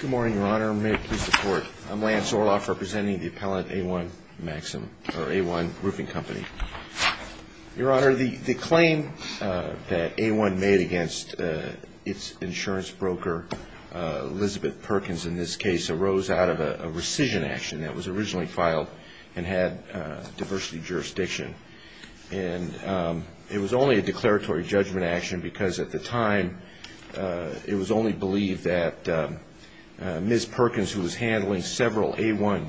Good morning, Your Honor. May it please the Court. I'm Lance Orloff representing the appellant A-1 Maxim, or A-1 Roofing Company. Your Honor, the claim that A-1 made against its insurance broker, Elizabeth Perkins in this case, arose out of a rescission action that was originally filed and had diversity of jurisdiction. And it was only a declaratory judgment action because at the time it was only believed that Ms. Perkins, who was handling several A-1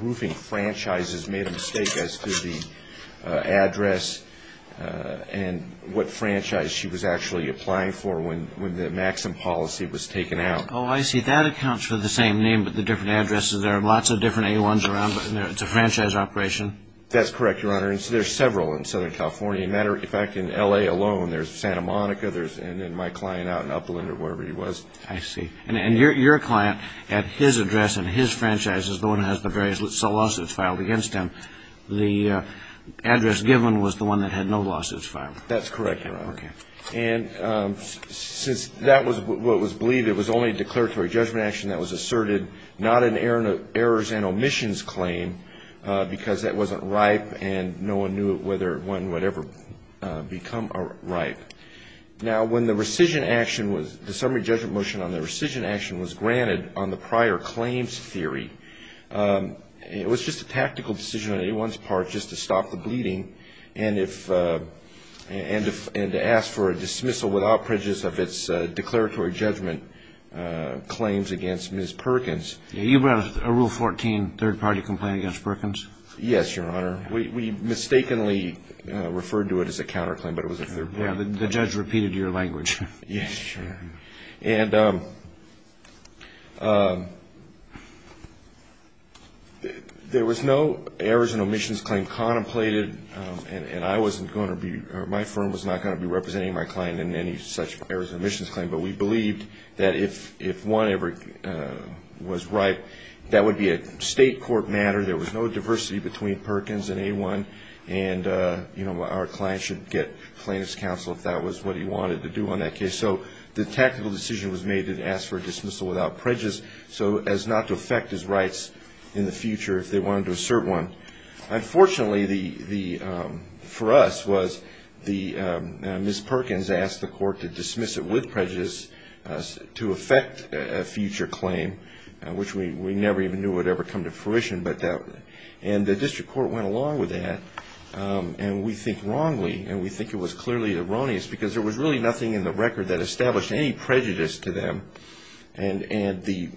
roofing franchises, made a mistake as to the address and what franchise she was actually applying for when the Maxim policy was taken out. Oh, I see. That accounts for the same name but the different addresses. There are lots of different A-1s around, but it's a franchise operation. That's correct, Your Honor. There are several in Southern California. In fact, in L.A. alone, there's Santa Monica and my client out in Upland or wherever he was. I see. And your client, at his address and his franchise, is the one that has the various lawsuits filed against him. The address given was the one that had no lawsuits filed. That's correct, Your Honor. And since that was what was believed, it was only a declaratory judgment action that was asserted, not an errors and omissions claim because that wasn't ripe and no one knew whether one would ever become ripe. Now, when the rescission action was, the summary judgment motion on the rescission action was granted on the prior claims theory, it was just a tactical decision on A-1's part just to stop the bleeding and to ask for a dismissal without prejudice of its declaratory judgment claims against Ms. Perkins. You brought a Rule 14 third-party complaint against Perkins? Yes, Your Honor. We mistakenly referred to it as a counterclaim, but it was a third-party complaint. Yeah, the judge repeated your language. Yes. And there was no errors and omissions claim contemplated, and I wasn't going to be, or my firm was not going to be representing my client in any such errors and omissions claim. But we believed that if one ever was ripe, that would be a state court matter, there was no diversity between Perkins and A-1, and our client should get plaintiff's counsel if that was what he wanted to do on that case. So the tactical decision was made to ask for a dismissal without prejudice so as not to affect his rights in the future if they wanted to assert one. Unfortunately, for us, Ms. Perkins asked the court to dismiss it with prejudice to affect a future claim, which we never even knew would ever come to fruition. And the district court went along with that, and we think wrongly, and we think it was clearly erroneous, because there was really nothing in the record that established any prejudice to them, and the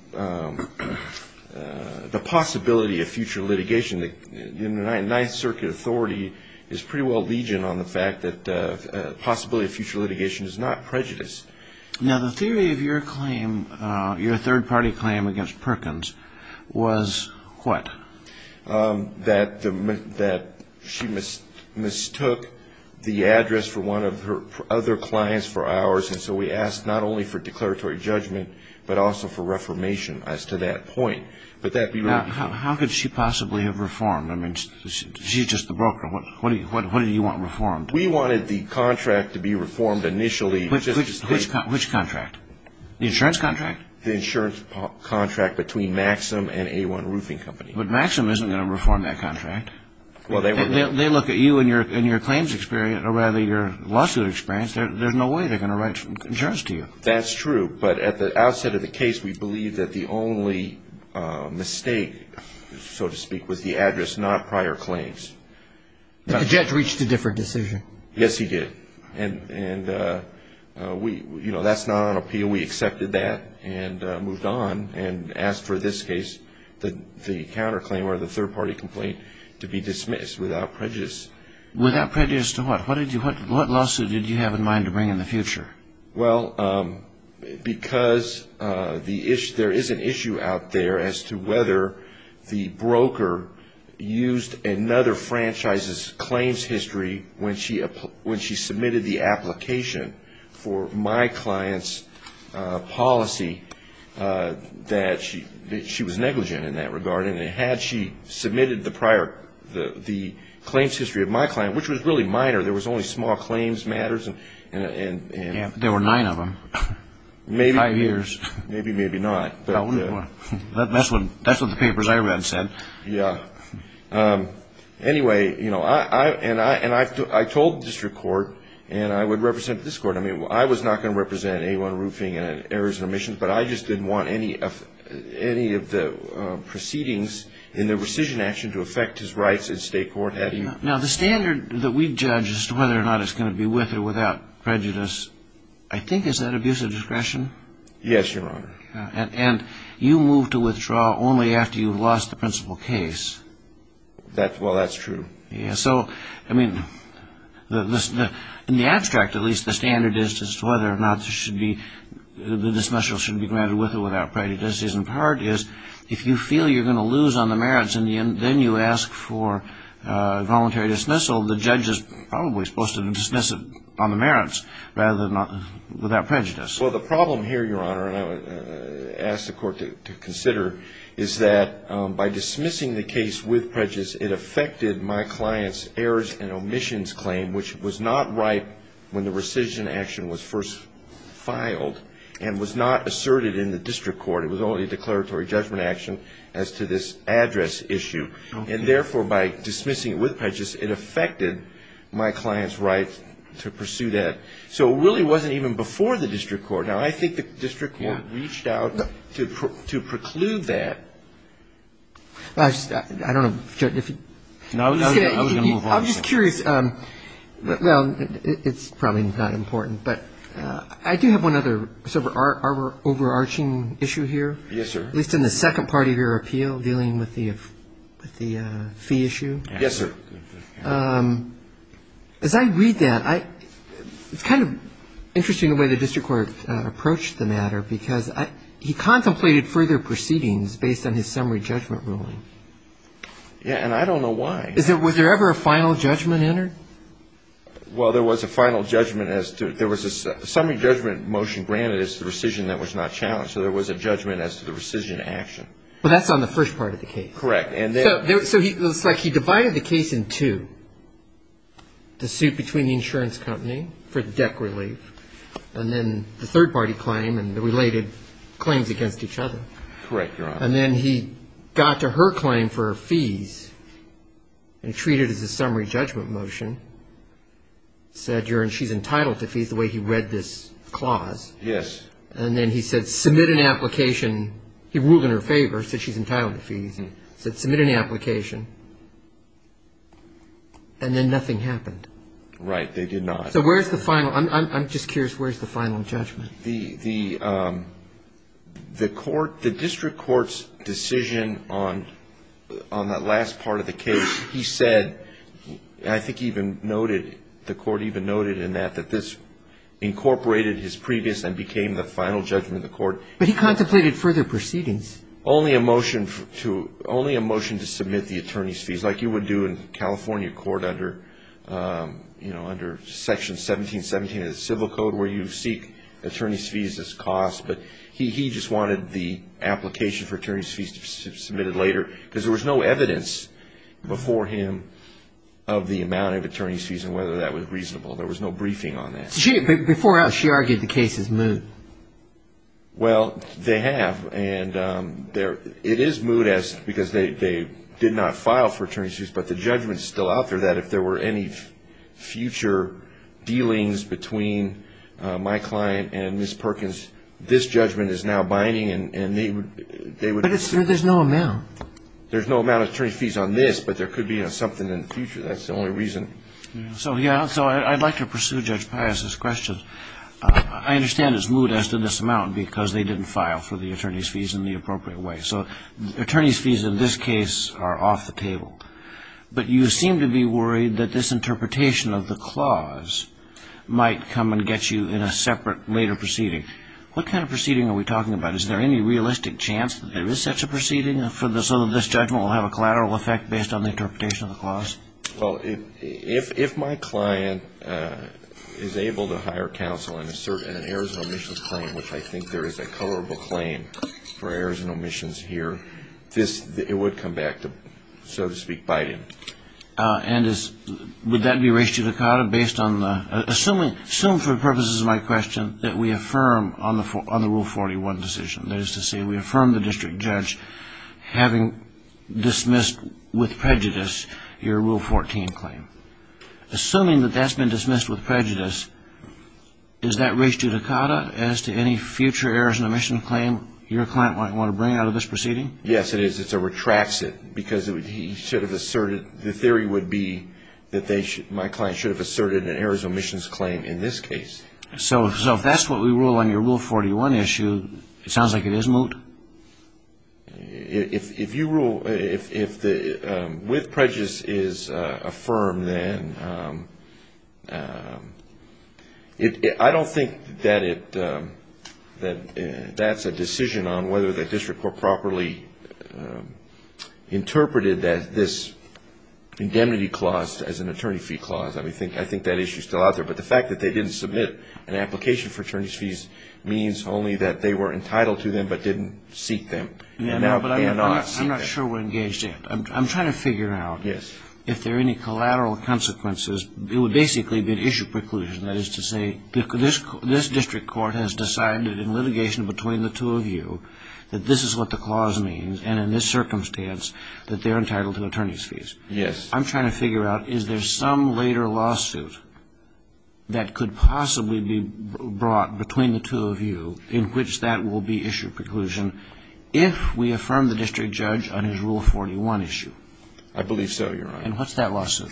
possibility of future litigation in the Ninth Circuit Authority is pretty well legion on the fact that the possibility of future litigation is not prejudice. Now, the theory of your claim, your third-party claim against Perkins, was what? That she mistook the address for one of her other clients for ours, and so we asked not only for declaratory judgment, but also for reformation as to that point. How could she possibly have reformed? I mean, she's just the broker. What do you want reformed? We wanted the contract to be reformed initially. Which contract? The insurance contract? The insurance contract between Maxim and A1 Roofing Company. But Maxim isn't going to reform that contract. They look at you and your claims experience, or rather your lawsuit experience. There's no way they're going to write insurance to you. That's true, but at the outset of the case, we believe that the only mistake, so to speak, was the address, not prior claims. But the judge reached a different decision. Yes, he did. And that's not on appeal. We accepted that and moved on and asked for this case, the counterclaim or the third-party complaint, to be dismissed without prejudice. Without prejudice to what? What lawsuit did you have in mind to bring in the future? Well, because there is an issue out there as to whether the broker used another franchise's claims history when she submitted the application for my client's policy that she was negligent in that regard. And had she submitted the prior, the claims history of my client, which was really minor, there was only small claims matters. There were nine of them. Maybe. Five years. Maybe, maybe not. That's what the papers I read said. Yeah. Anyway, you know, and I told district court and I would represent this court. I mean, I was not going to represent A1 roofing and errors and omissions, but I just didn't want any of the proceedings in the rescission action to affect his rights in state court. Now, the standard that we judge as to whether or not it's going to be with or without prejudice, I think is that abuse of discretion? Yes, Your Honor. And you moved to withdraw only after you lost the principal case. Well, that's true. Yes. So, I mean, in the abstract, at least, the standard is whether or not there should be, the dismissal should be granted with or without prejudice. And part is if you feel you're going to lose on the merits and then you ask for voluntary dismissal, the judge is probably supposed to dismiss it on the merits rather than without prejudice. Well, the problem here, Your Honor, and I would ask the court to consider, is that by dismissing the case with prejudice, it affected my client's errors and omissions claim, which was not right when the rescission action was first filed and was not asserted in the district court. It was only a declaratory judgment action as to this address issue. And therefore, by dismissing it with prejudice, it affected my client's right to pursue that. So it really wasn't even before the district court. Now, I think the district court reached out to preclude that. I don't know, Judge. I was going to move on. I'm just curious. Well, it's probably not important, but I do have one other sort of overarching issue here. Yes, sir. At least in the second part of your appeal dealing with the fee issue. Yes, sir. As I read that, it's kind of interesting the way the district court approached the matter because he contemplated further proceedings based on his summary judgment ruling. Yeah, and I don't know why. Was there ever a final judgment entered? Well, there was a final judgment as to ‑‑ there was a summary judgment motion granted as to rescission that was not challenged. So there was a judgment as to the rescission action. Well, that's on the first part of the case. Correct. So it looks like he divided the case in two, the suit between the insurance company for the debt relief and then the third-party claim and the related claims against each other. Correct, Your Honor. And then he got to her claim for her fees and treated it as a summary judgment motion, said she's entitled to fees the way he read this clause. Yes. And then he said submit an application. He ruled in her favor, said she's entitled to fees and said submit an application. And then nothing happened. Right. They did not. So where's the final? I'm just curious, where's the final judgment? The court ‑‑ the district court's decision on that last part of the case, he said, I think he even noted, the court even noted in that, that this incorporated his previous and became the final judgment of the court. But he contemplated further proceedings. Only a motion to submit the attorney's fees, like you would do in California court under Section 1717 of the Civil Code where you seek attorney's fees as costs, but he just wanted the application for attorney's fees to be submitted later because there was no evidence before him of the amount of attorney's fees and whether that was reasonable. There was no briefing on that. But before that, she argued the case is moot. Well, they have. And it is moot because they did not file for attorney's fees, but the judgment's still out there that if there were any future dealings between my client and Ms. Perkins, this judgment is now binding. But there's no amount. There's no amount of attorney's fees on this, but there could be something in the future. That's the only reason. So, yeah, so I'd like to pursue Judge Pius's question. I understand it's moot as to this amount because they didn't file for the attorney's fees in the appropriate way. So attorney's fees in this case are off the table. But you seem to be worried that this interpretation of the clause might come and get you in a separate later proceeding. What kind of proceeding are we talking about? Is there any realistic chance that there is such a proceeding so that this judgment will have a collateral effect based on the interpretation of the clause? Well, if my client is able to hire counsel in an errors and omissions claim, which I think there is a colorable claim for errors and omissions here, it would come back to, so to speak, Biden. And would that be ratio-de-cada based on the – assume for the purposes of my question that we affirm on the Rule 41 decision, that is to say we affirm the district judge having dismissed with prejudice your Rule 14 claim. Assuming that that's been dismissed with prejudice, is that ratio-de-cada as to any future errors and omissions claim your client might want to bring out of this proceeding? Yes, it is. It's a retracts it because he should have asserted – the theory would be that my client should have asserted an errors and omissions claim in this case. So if that's what we rule on your Rule 41 issue, it sounds like it is moot? If you rule – if the – with prejudice is affirmed, then I don't think that it – that that's a decision on whether the district court properly interpreted this indemnity clause as an attorney fee clause. I think that issue is still out there. But the fact that they didn't submit an application for attorney's fees means only that they were entitled to them but didn't seek them. But I'm not sure we're engaged yet. I'm trying to figure out if there are any collateral consequences. It would basically be an issue preclusion, that is to say, this district court has decided in litigation between the two of you that this is what the clause means and in this circumstance that they're entitled to attorney's fees. Yes. I'm trying to figure out is there some later lawsuit that could possibly be brought between the two of you in which that will be issue preclusion if we affirm the district judge on his Rule 41 issue? I believe so, Your Honor. And what's that lawsuit?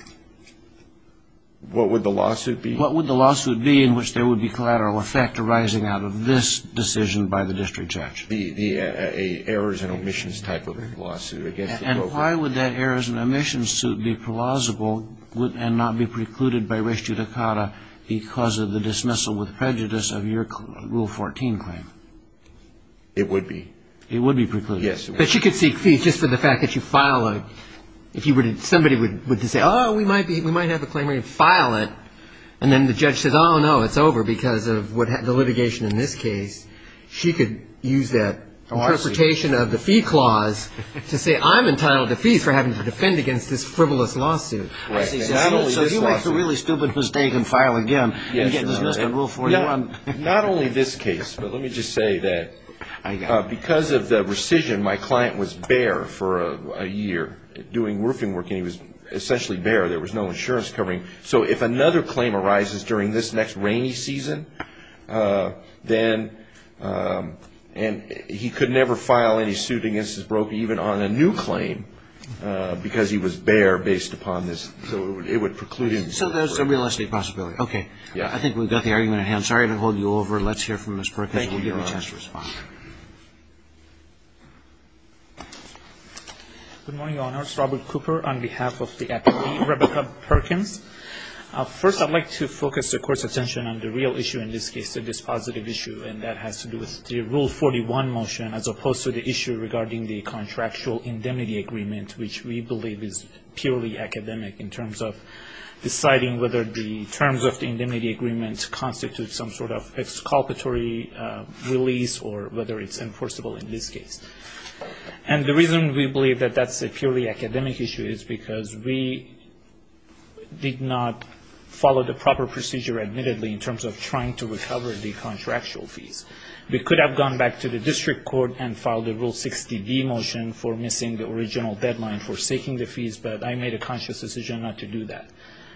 What would the lawsuit be? What would the lawsuit be in which there would be collateral effect arising out of this decision by the district judge? The errors and omissions type of lawsuit against the broker. So why would that errors and omissions suit be plausible and not be precluded by res judicata because of the dismissal with prejudice of your Rule 14 claim? It would be. It would be precluded. Yes. But she could seek fees just for the fact that you file a, if you were to, somebody would say, oh, we might have a claimant file it, and then the judge says, oh, no, it's over because of the litigation in this case. She could use that interpretation of the fee clause to say, I'm entitled to fees for having to defend against this frivolous lawsuit. Right. So he makes a really stupid mistake and file again and get dismissed on Rule 41. Not only this case, but let me just say that because of the rescission, my client was bare for a year doing roofing work, and he was essentially bare. There was no insurance covering. So if another claim arises during this next rainy season, then, and he could never file any suit against his broker, even on a new claim, because he was bare based upon this. So it would preclude him. So there's a real estate possibility. Okay. Yeah. I think we've got the argument at hand. Sorry to hold you over. Let's hear from Ms. Perkins. We'll give her a chance to respond. Good morning, Your Honors. My name is Robert Cooper on behalf of the Academy, Rebecca Perkins. First, I'd like to focus the Court's attention on the real issue in this case, the dispositive issue, and that has to do with the Rule 41 motion, as opposed to the issue regarding the contractual indemnity agreement, which we believe is purely academic in terms of deciding whether the terms of the indemnity agreement constitute some sort of exculpatory release or whether it's enforceable in this case. And the reason we believe that that's a purely academic issue is because we did not follow the proper procedure, admittedly, in terms of trying to recover the contractual fees. We could have gone back to the district court and filed a Rule 60B motion for missing the original deadline for seeking the fees, but I made a conscious decision not to do that.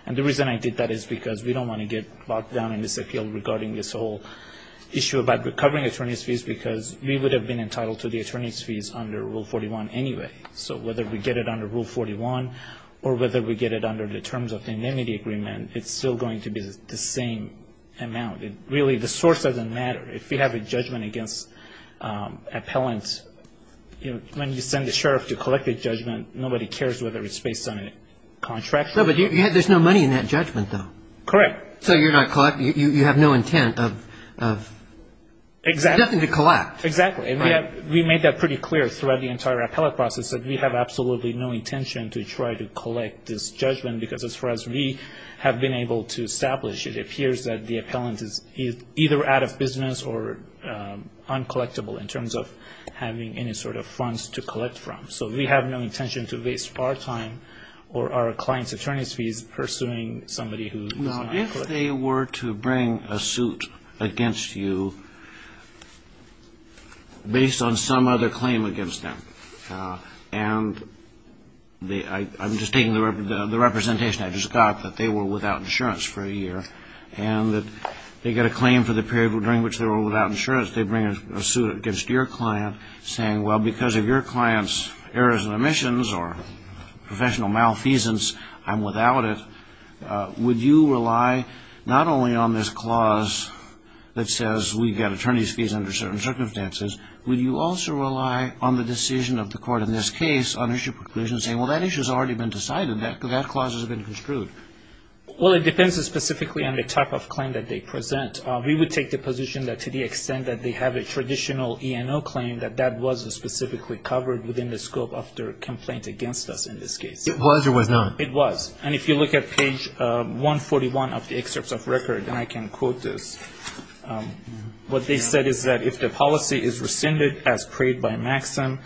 And the reason I did that is because we don't want to get locked down in this appeal regarding this whole issue about recovering attorney's fees, because we would have been entitled to the attorney's fees under Rule 41 anyway. So whether we get it under Rule 41 or whether we get it under the terms of the indemnity agreement, it's still going to be the same amount. Really, the source doesn't matter. If you have a judgment against appellants, when you send the sheriff to collect the judgment, nobody cares whether it's based on a contractual fee. No, but there's no money in that judgment, though. Correct. So you're not collecting. You have no intent of collecting. Exactly. We made that pretty clear throughout the entire appellate process, that we have absolutely no intention to try to collect this judgment because as far as we have been able to establish, it appears that the appellant is either out of business or uncollectable in terms of having any sort of funds to collect from. So we have no intention to waste our time No, if they were to bring a suit against you based on some other claim against them, and I'm just taking the representation I just got that they were without insurance for a year and that they get a claim for the period during which they were without insurance, they bring a suit against your client saying, well, because of your client's errors and omissions or professional malfeasance, I'm without it. Would you rely not only on this clause that says we've got attorney's fees under certain circumstances, would you also rely on the decision of the court in this case on issue preclusion saying, well, that issue's already been decided, that clause has been construed? Well, it depends specifically on the type of claim that they present. We would take the position that to the extent that they have a traditional E&O claim, that that was specifically covered within the scope of their complaint against us in this case. It was or was not? It was. And if you look at page 141 of the excerpts of record, and I can quote this, what they said is that if the policy is rescinded as prayed by MAXIM,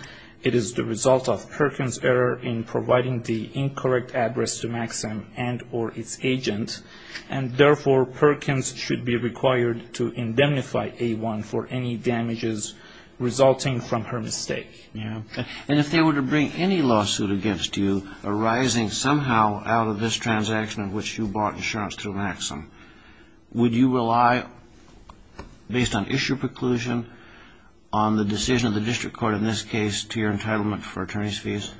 it is the result of Perkins' error in providing the incorrect address to MAXIM and or its agent, and therefore Perkins should be required to indemnify A1 for any damages resulting from her mistake. And if they were to bring any lawsuit against you arising somehow out of this transaction in which you bought insurance through MAXIM, would you rely based on issue preclusion on the decision of the district court in this case to your entitlement for attorney's fees?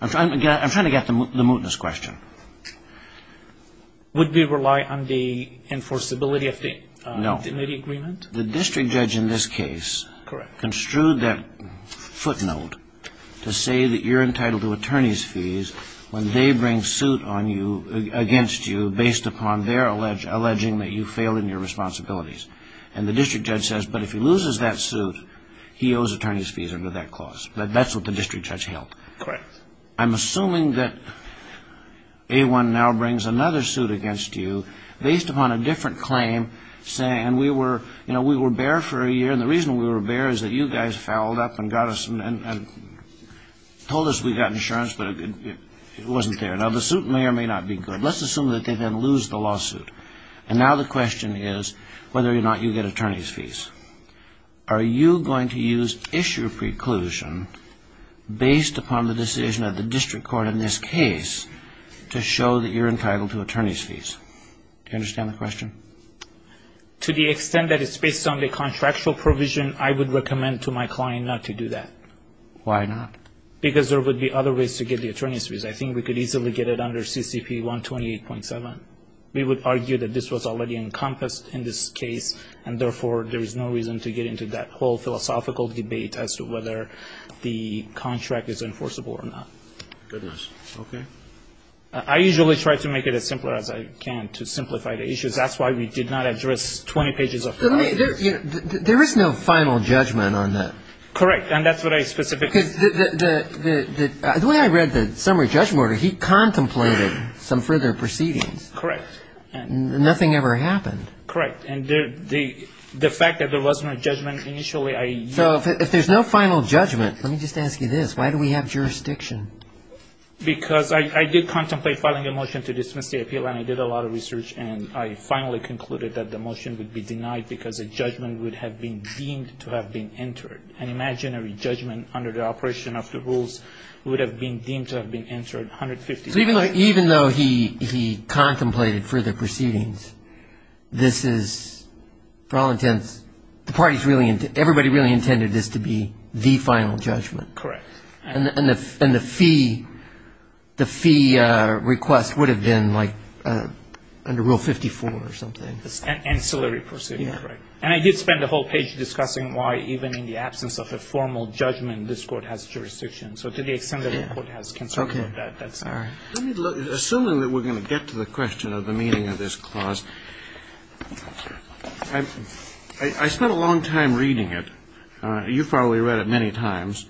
I'm trying to get the mootness question. Would we rely on the enforceability of the immediate agreement? No. The district judge in this case construed that footnote to say that you're entitled to attorney's fees when they bring suit against you based upon their alleging that you failed in your responsibilities. And the district judge says, but if he loses that suit, he owes attorney's fees under that clause. That's what the district judge held. Correct. I'm assuming that A1 now brings another suit against you based upon a different claim saying, and we were bare for a year, and the reason we were bare is that you guys fouled up and got us and told us we got insurance, but it wasn't there. Now, the suit may or may not be good. Let's assume that they then lose the lawsuit. And now the question is whether or not you get attorney's fees. Are you going to use issue preclusion based upon the decision of the district court in this case to show that you're entitled to attorney's fees? Do you understand the question? To the extent that it's based on the contractual provision, I would recommend to my client not to do that. Why not? Because there would be other ways to get the attorney's fees. I think we could easily get it under CCP 128.7. We would argue that this was already encompassed in this case, and therefore there is no reason to get into that whole philosophical debate as to whether the contract is enforceable or not. Goodness. Okay. I usually try to make it as simple as I can to simplify the issues. That's why we did not address 20 pages of the lawsuit. There is no final judgment on that. Correct, and that's what I specifically said. Because the way I read the summary judgment order, he contemplated some further proceedings. Correct. And nothing ever happened. Correct. And the fact that there was no judgment initially I used. So if there's no final judgment, let me just ask you this. Why do we have jurisdiction? Because I did contemplate filing a motion to dismiss the appeal, and I did a lot of research, and I finally concluded that the motion would be denied because a judgment would have been deemed to have been entered. An imaginary judgment under the operation of the rules would have been deemed to have been entered 150 times. So even though he contemplated further proceedings, this is, for all intents, the parties really, everybody really intended this to be the final judgment. Correct. And the fee request would have been, like, under Rule 54 or something. Ancillary proceedings, right. And I did spend the whole page discussing why even in the absence of a formal judgment this court has jurisdiction. So to the extent that the court has concern about that, that's all right. Assuming that we're going to get to the question of the meaning of this clause, I spent a long time reading it. You've probably read it many times.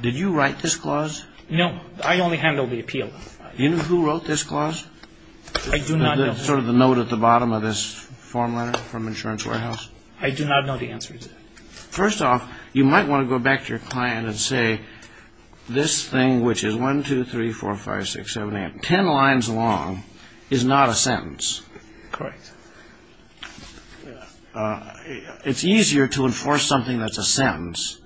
Did you write this clause? No. I only handled the appeal. Do you know who wrote this clause? I do not know. Sort of the note at the bottom of this form letter from Insurance Warehouse? I do not know the answer to that. First off, you might want to go back to your client and say this thing, which is 1, 2, 3, 4, 5, 6, 7, 8, 10 lines long is not a sentence. Correct. It's easier to enforce something that's a sentence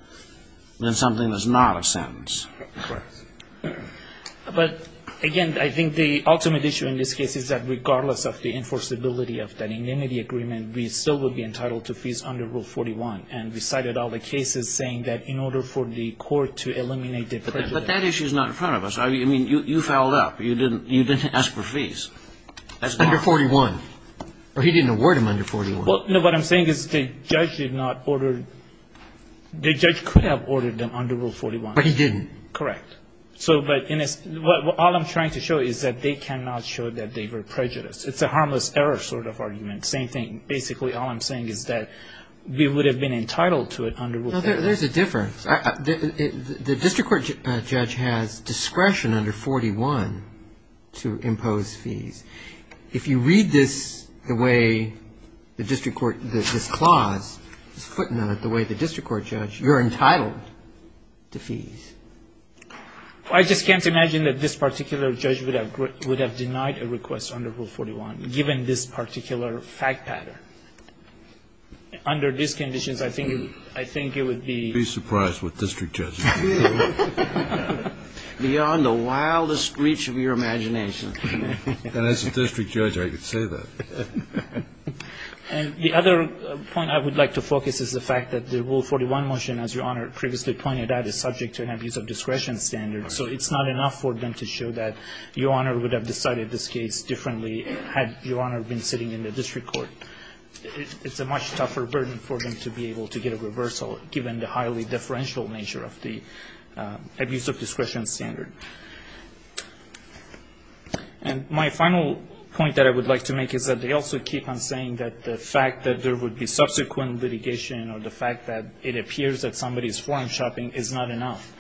than something that's not a sentence. Correct. But, again, I think the ultimate issue in this case is that regardless of the enforceability of that indemnity agreement, we still would be entitled to fees under Rule 41. And we cited all the cases saying that in order for the court to eliminate the prejudice. But that issue is not in front of us. I mean, you fouled up. You didn't ask for fees. Under 41. Or he didn't award them under 41. No, what I'm saying is the judge did not order the judge could have ordered them under Rule 41. But he didn't. Correct. But all I'm trying to show is that they cannot show that they were prejudiced. It's a harmless error sort of argument. Same thing. Basically, all I'm saying is that we would have been entitled to it under Rule 41. There's a difference. The district court judge has discretion under 41 to impose fees. If you read this the way the district court, this clause, this footnote, the way the district court judge, you're entitled to fees. I just can't imagine that this particular judge would have denied a request under Rule 41, given this particular fact pattern. Under these conditions, I think it would be be surprised what district judges do. Beyond the wildest reach of your imagination. And as a district judge, I could say that. And the other point I would like to focus is the fact that the Rule 41 motion, as Your Honor previously pointed out, is subject to an abuse of discretion standard. So it's not enough for them to show that Your Honor would have decided this case differently had Your Honor been sitting in the district court. It's a much tougher burden for them to be able to get a reversal, given the highly differential nature of the abuse of discretion standard. And my final point that I would like to make is that they also keep on saying that the fact that there would be subsequent litigation or the fact that it appears that somebody is foreign shopping is not enough.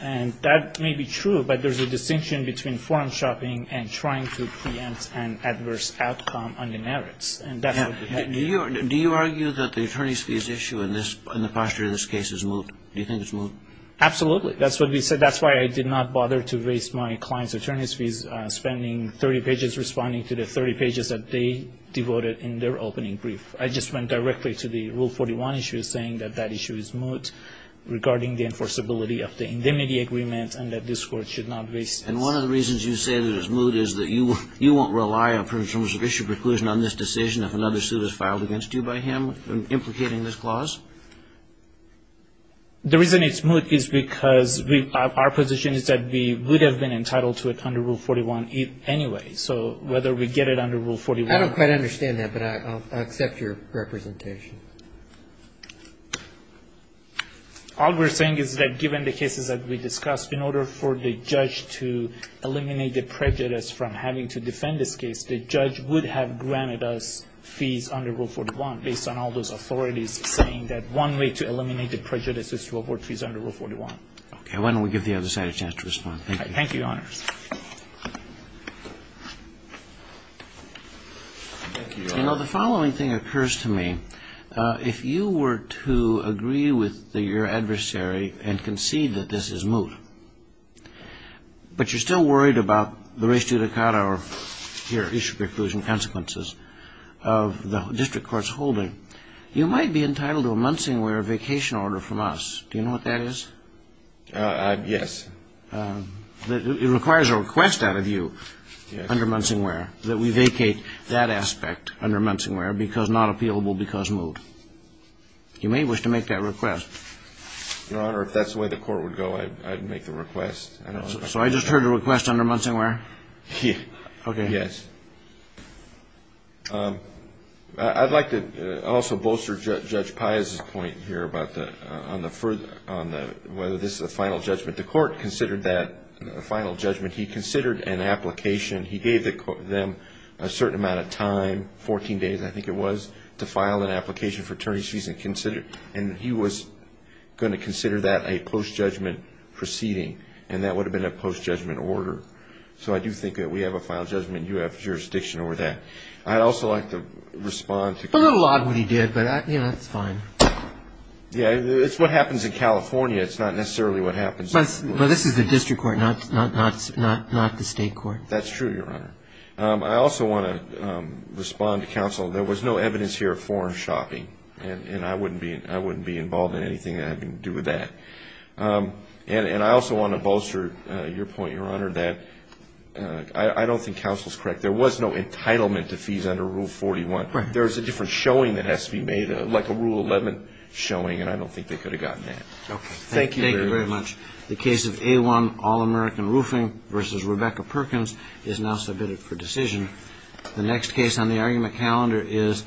And that may be true, but there's a distinction between foreign shopping and trying to preempt an adverse outcome under merits. And that's what we have here. Do you argue that the attorney's fees issue in the posture of this case is moot? Do you think it's moot? Absolutely. That's what we said. That's why I did not bother to raise my client's attorney's fees, spending 30 pages responding to the 30 pages that they devoted in their opening brief. I just went directly to the Rule 41 issue, saying that that issue is moot regarding the enforceability of the indemnity agreement and that this Court should not raise this. And one of the reasons you say that it's moot is that you won't rely, in terms of issue preclusion on this decision, if another suit is filed against you by him implicating this clause? The reason it's moot is because our position is that we would have been entitled to it under Rule 41 anyway. So whether we get it under Rule 41. I don't quite understand that, but I'll accept your representation. All we're saying is that given the cases that we discussed, in order for the judge to eliminate the prejudice from having to defend this case, the judge would have granted us fees under Rule 41, based on all those authorities saying that one way to eliminate the prejudice is to avoid fees under Rule 41. Okay. Why don't we give the other side a chance to respond. Thank you. Thank you, Your Honors. You know, the following thing occurs to me. If you were to agree with your adversary and concede that this is moot, but you're still worried about the res judicata or, here, issue preclusion consequences of the district court's holding, you might be entitled to a Munsingwear vacation order from us. Do you know what that is? Yes. It requires a request out of you under Munsingwear that we vacate that aspect under Munsingwear because not appealable because moot. You may wish to make that request. Your Honor, if that's the way the court would go, I'd make the request. So I just heard a request under Munsingwear? Yes. Okay. Yes. I'd like to also bolster Judge Piazza's point here about whether this is a final judgment. The court considered that a final judgment. He considered an application. He gave them a certain amount of time, 14 days, I think it was, to file an application for attorneys' fees, and he was going to consider that a post-judgment proceeding, and that would have been a post-judgment order. So I do think that we have a final judgment, and you have jurisdiction over that. I'd also like to respond. I don't know a lot of what he did, but, you know, that's fine. Yeah, it's what happens in California. It's not necessarily what happens. But this is the district court, not the state court. That's true, Your Honor. I also want to respond to counsel. There was no evidence here of foreign shopping, and I wouldn't be involved in anything that had to do with that. And I also want to bolster your point, Your Honor, that I don't think counsel is correct. There was no entitlement to fees under Rule 41. There's a different showing that has to be made, like a Rule 11 showing, and I don't think they could have gotten that. Okay. Thank you very much. The case of A1, All-American Roofing v. Rebecca Perkins is now submitted for decision. The next case on the argument calendar is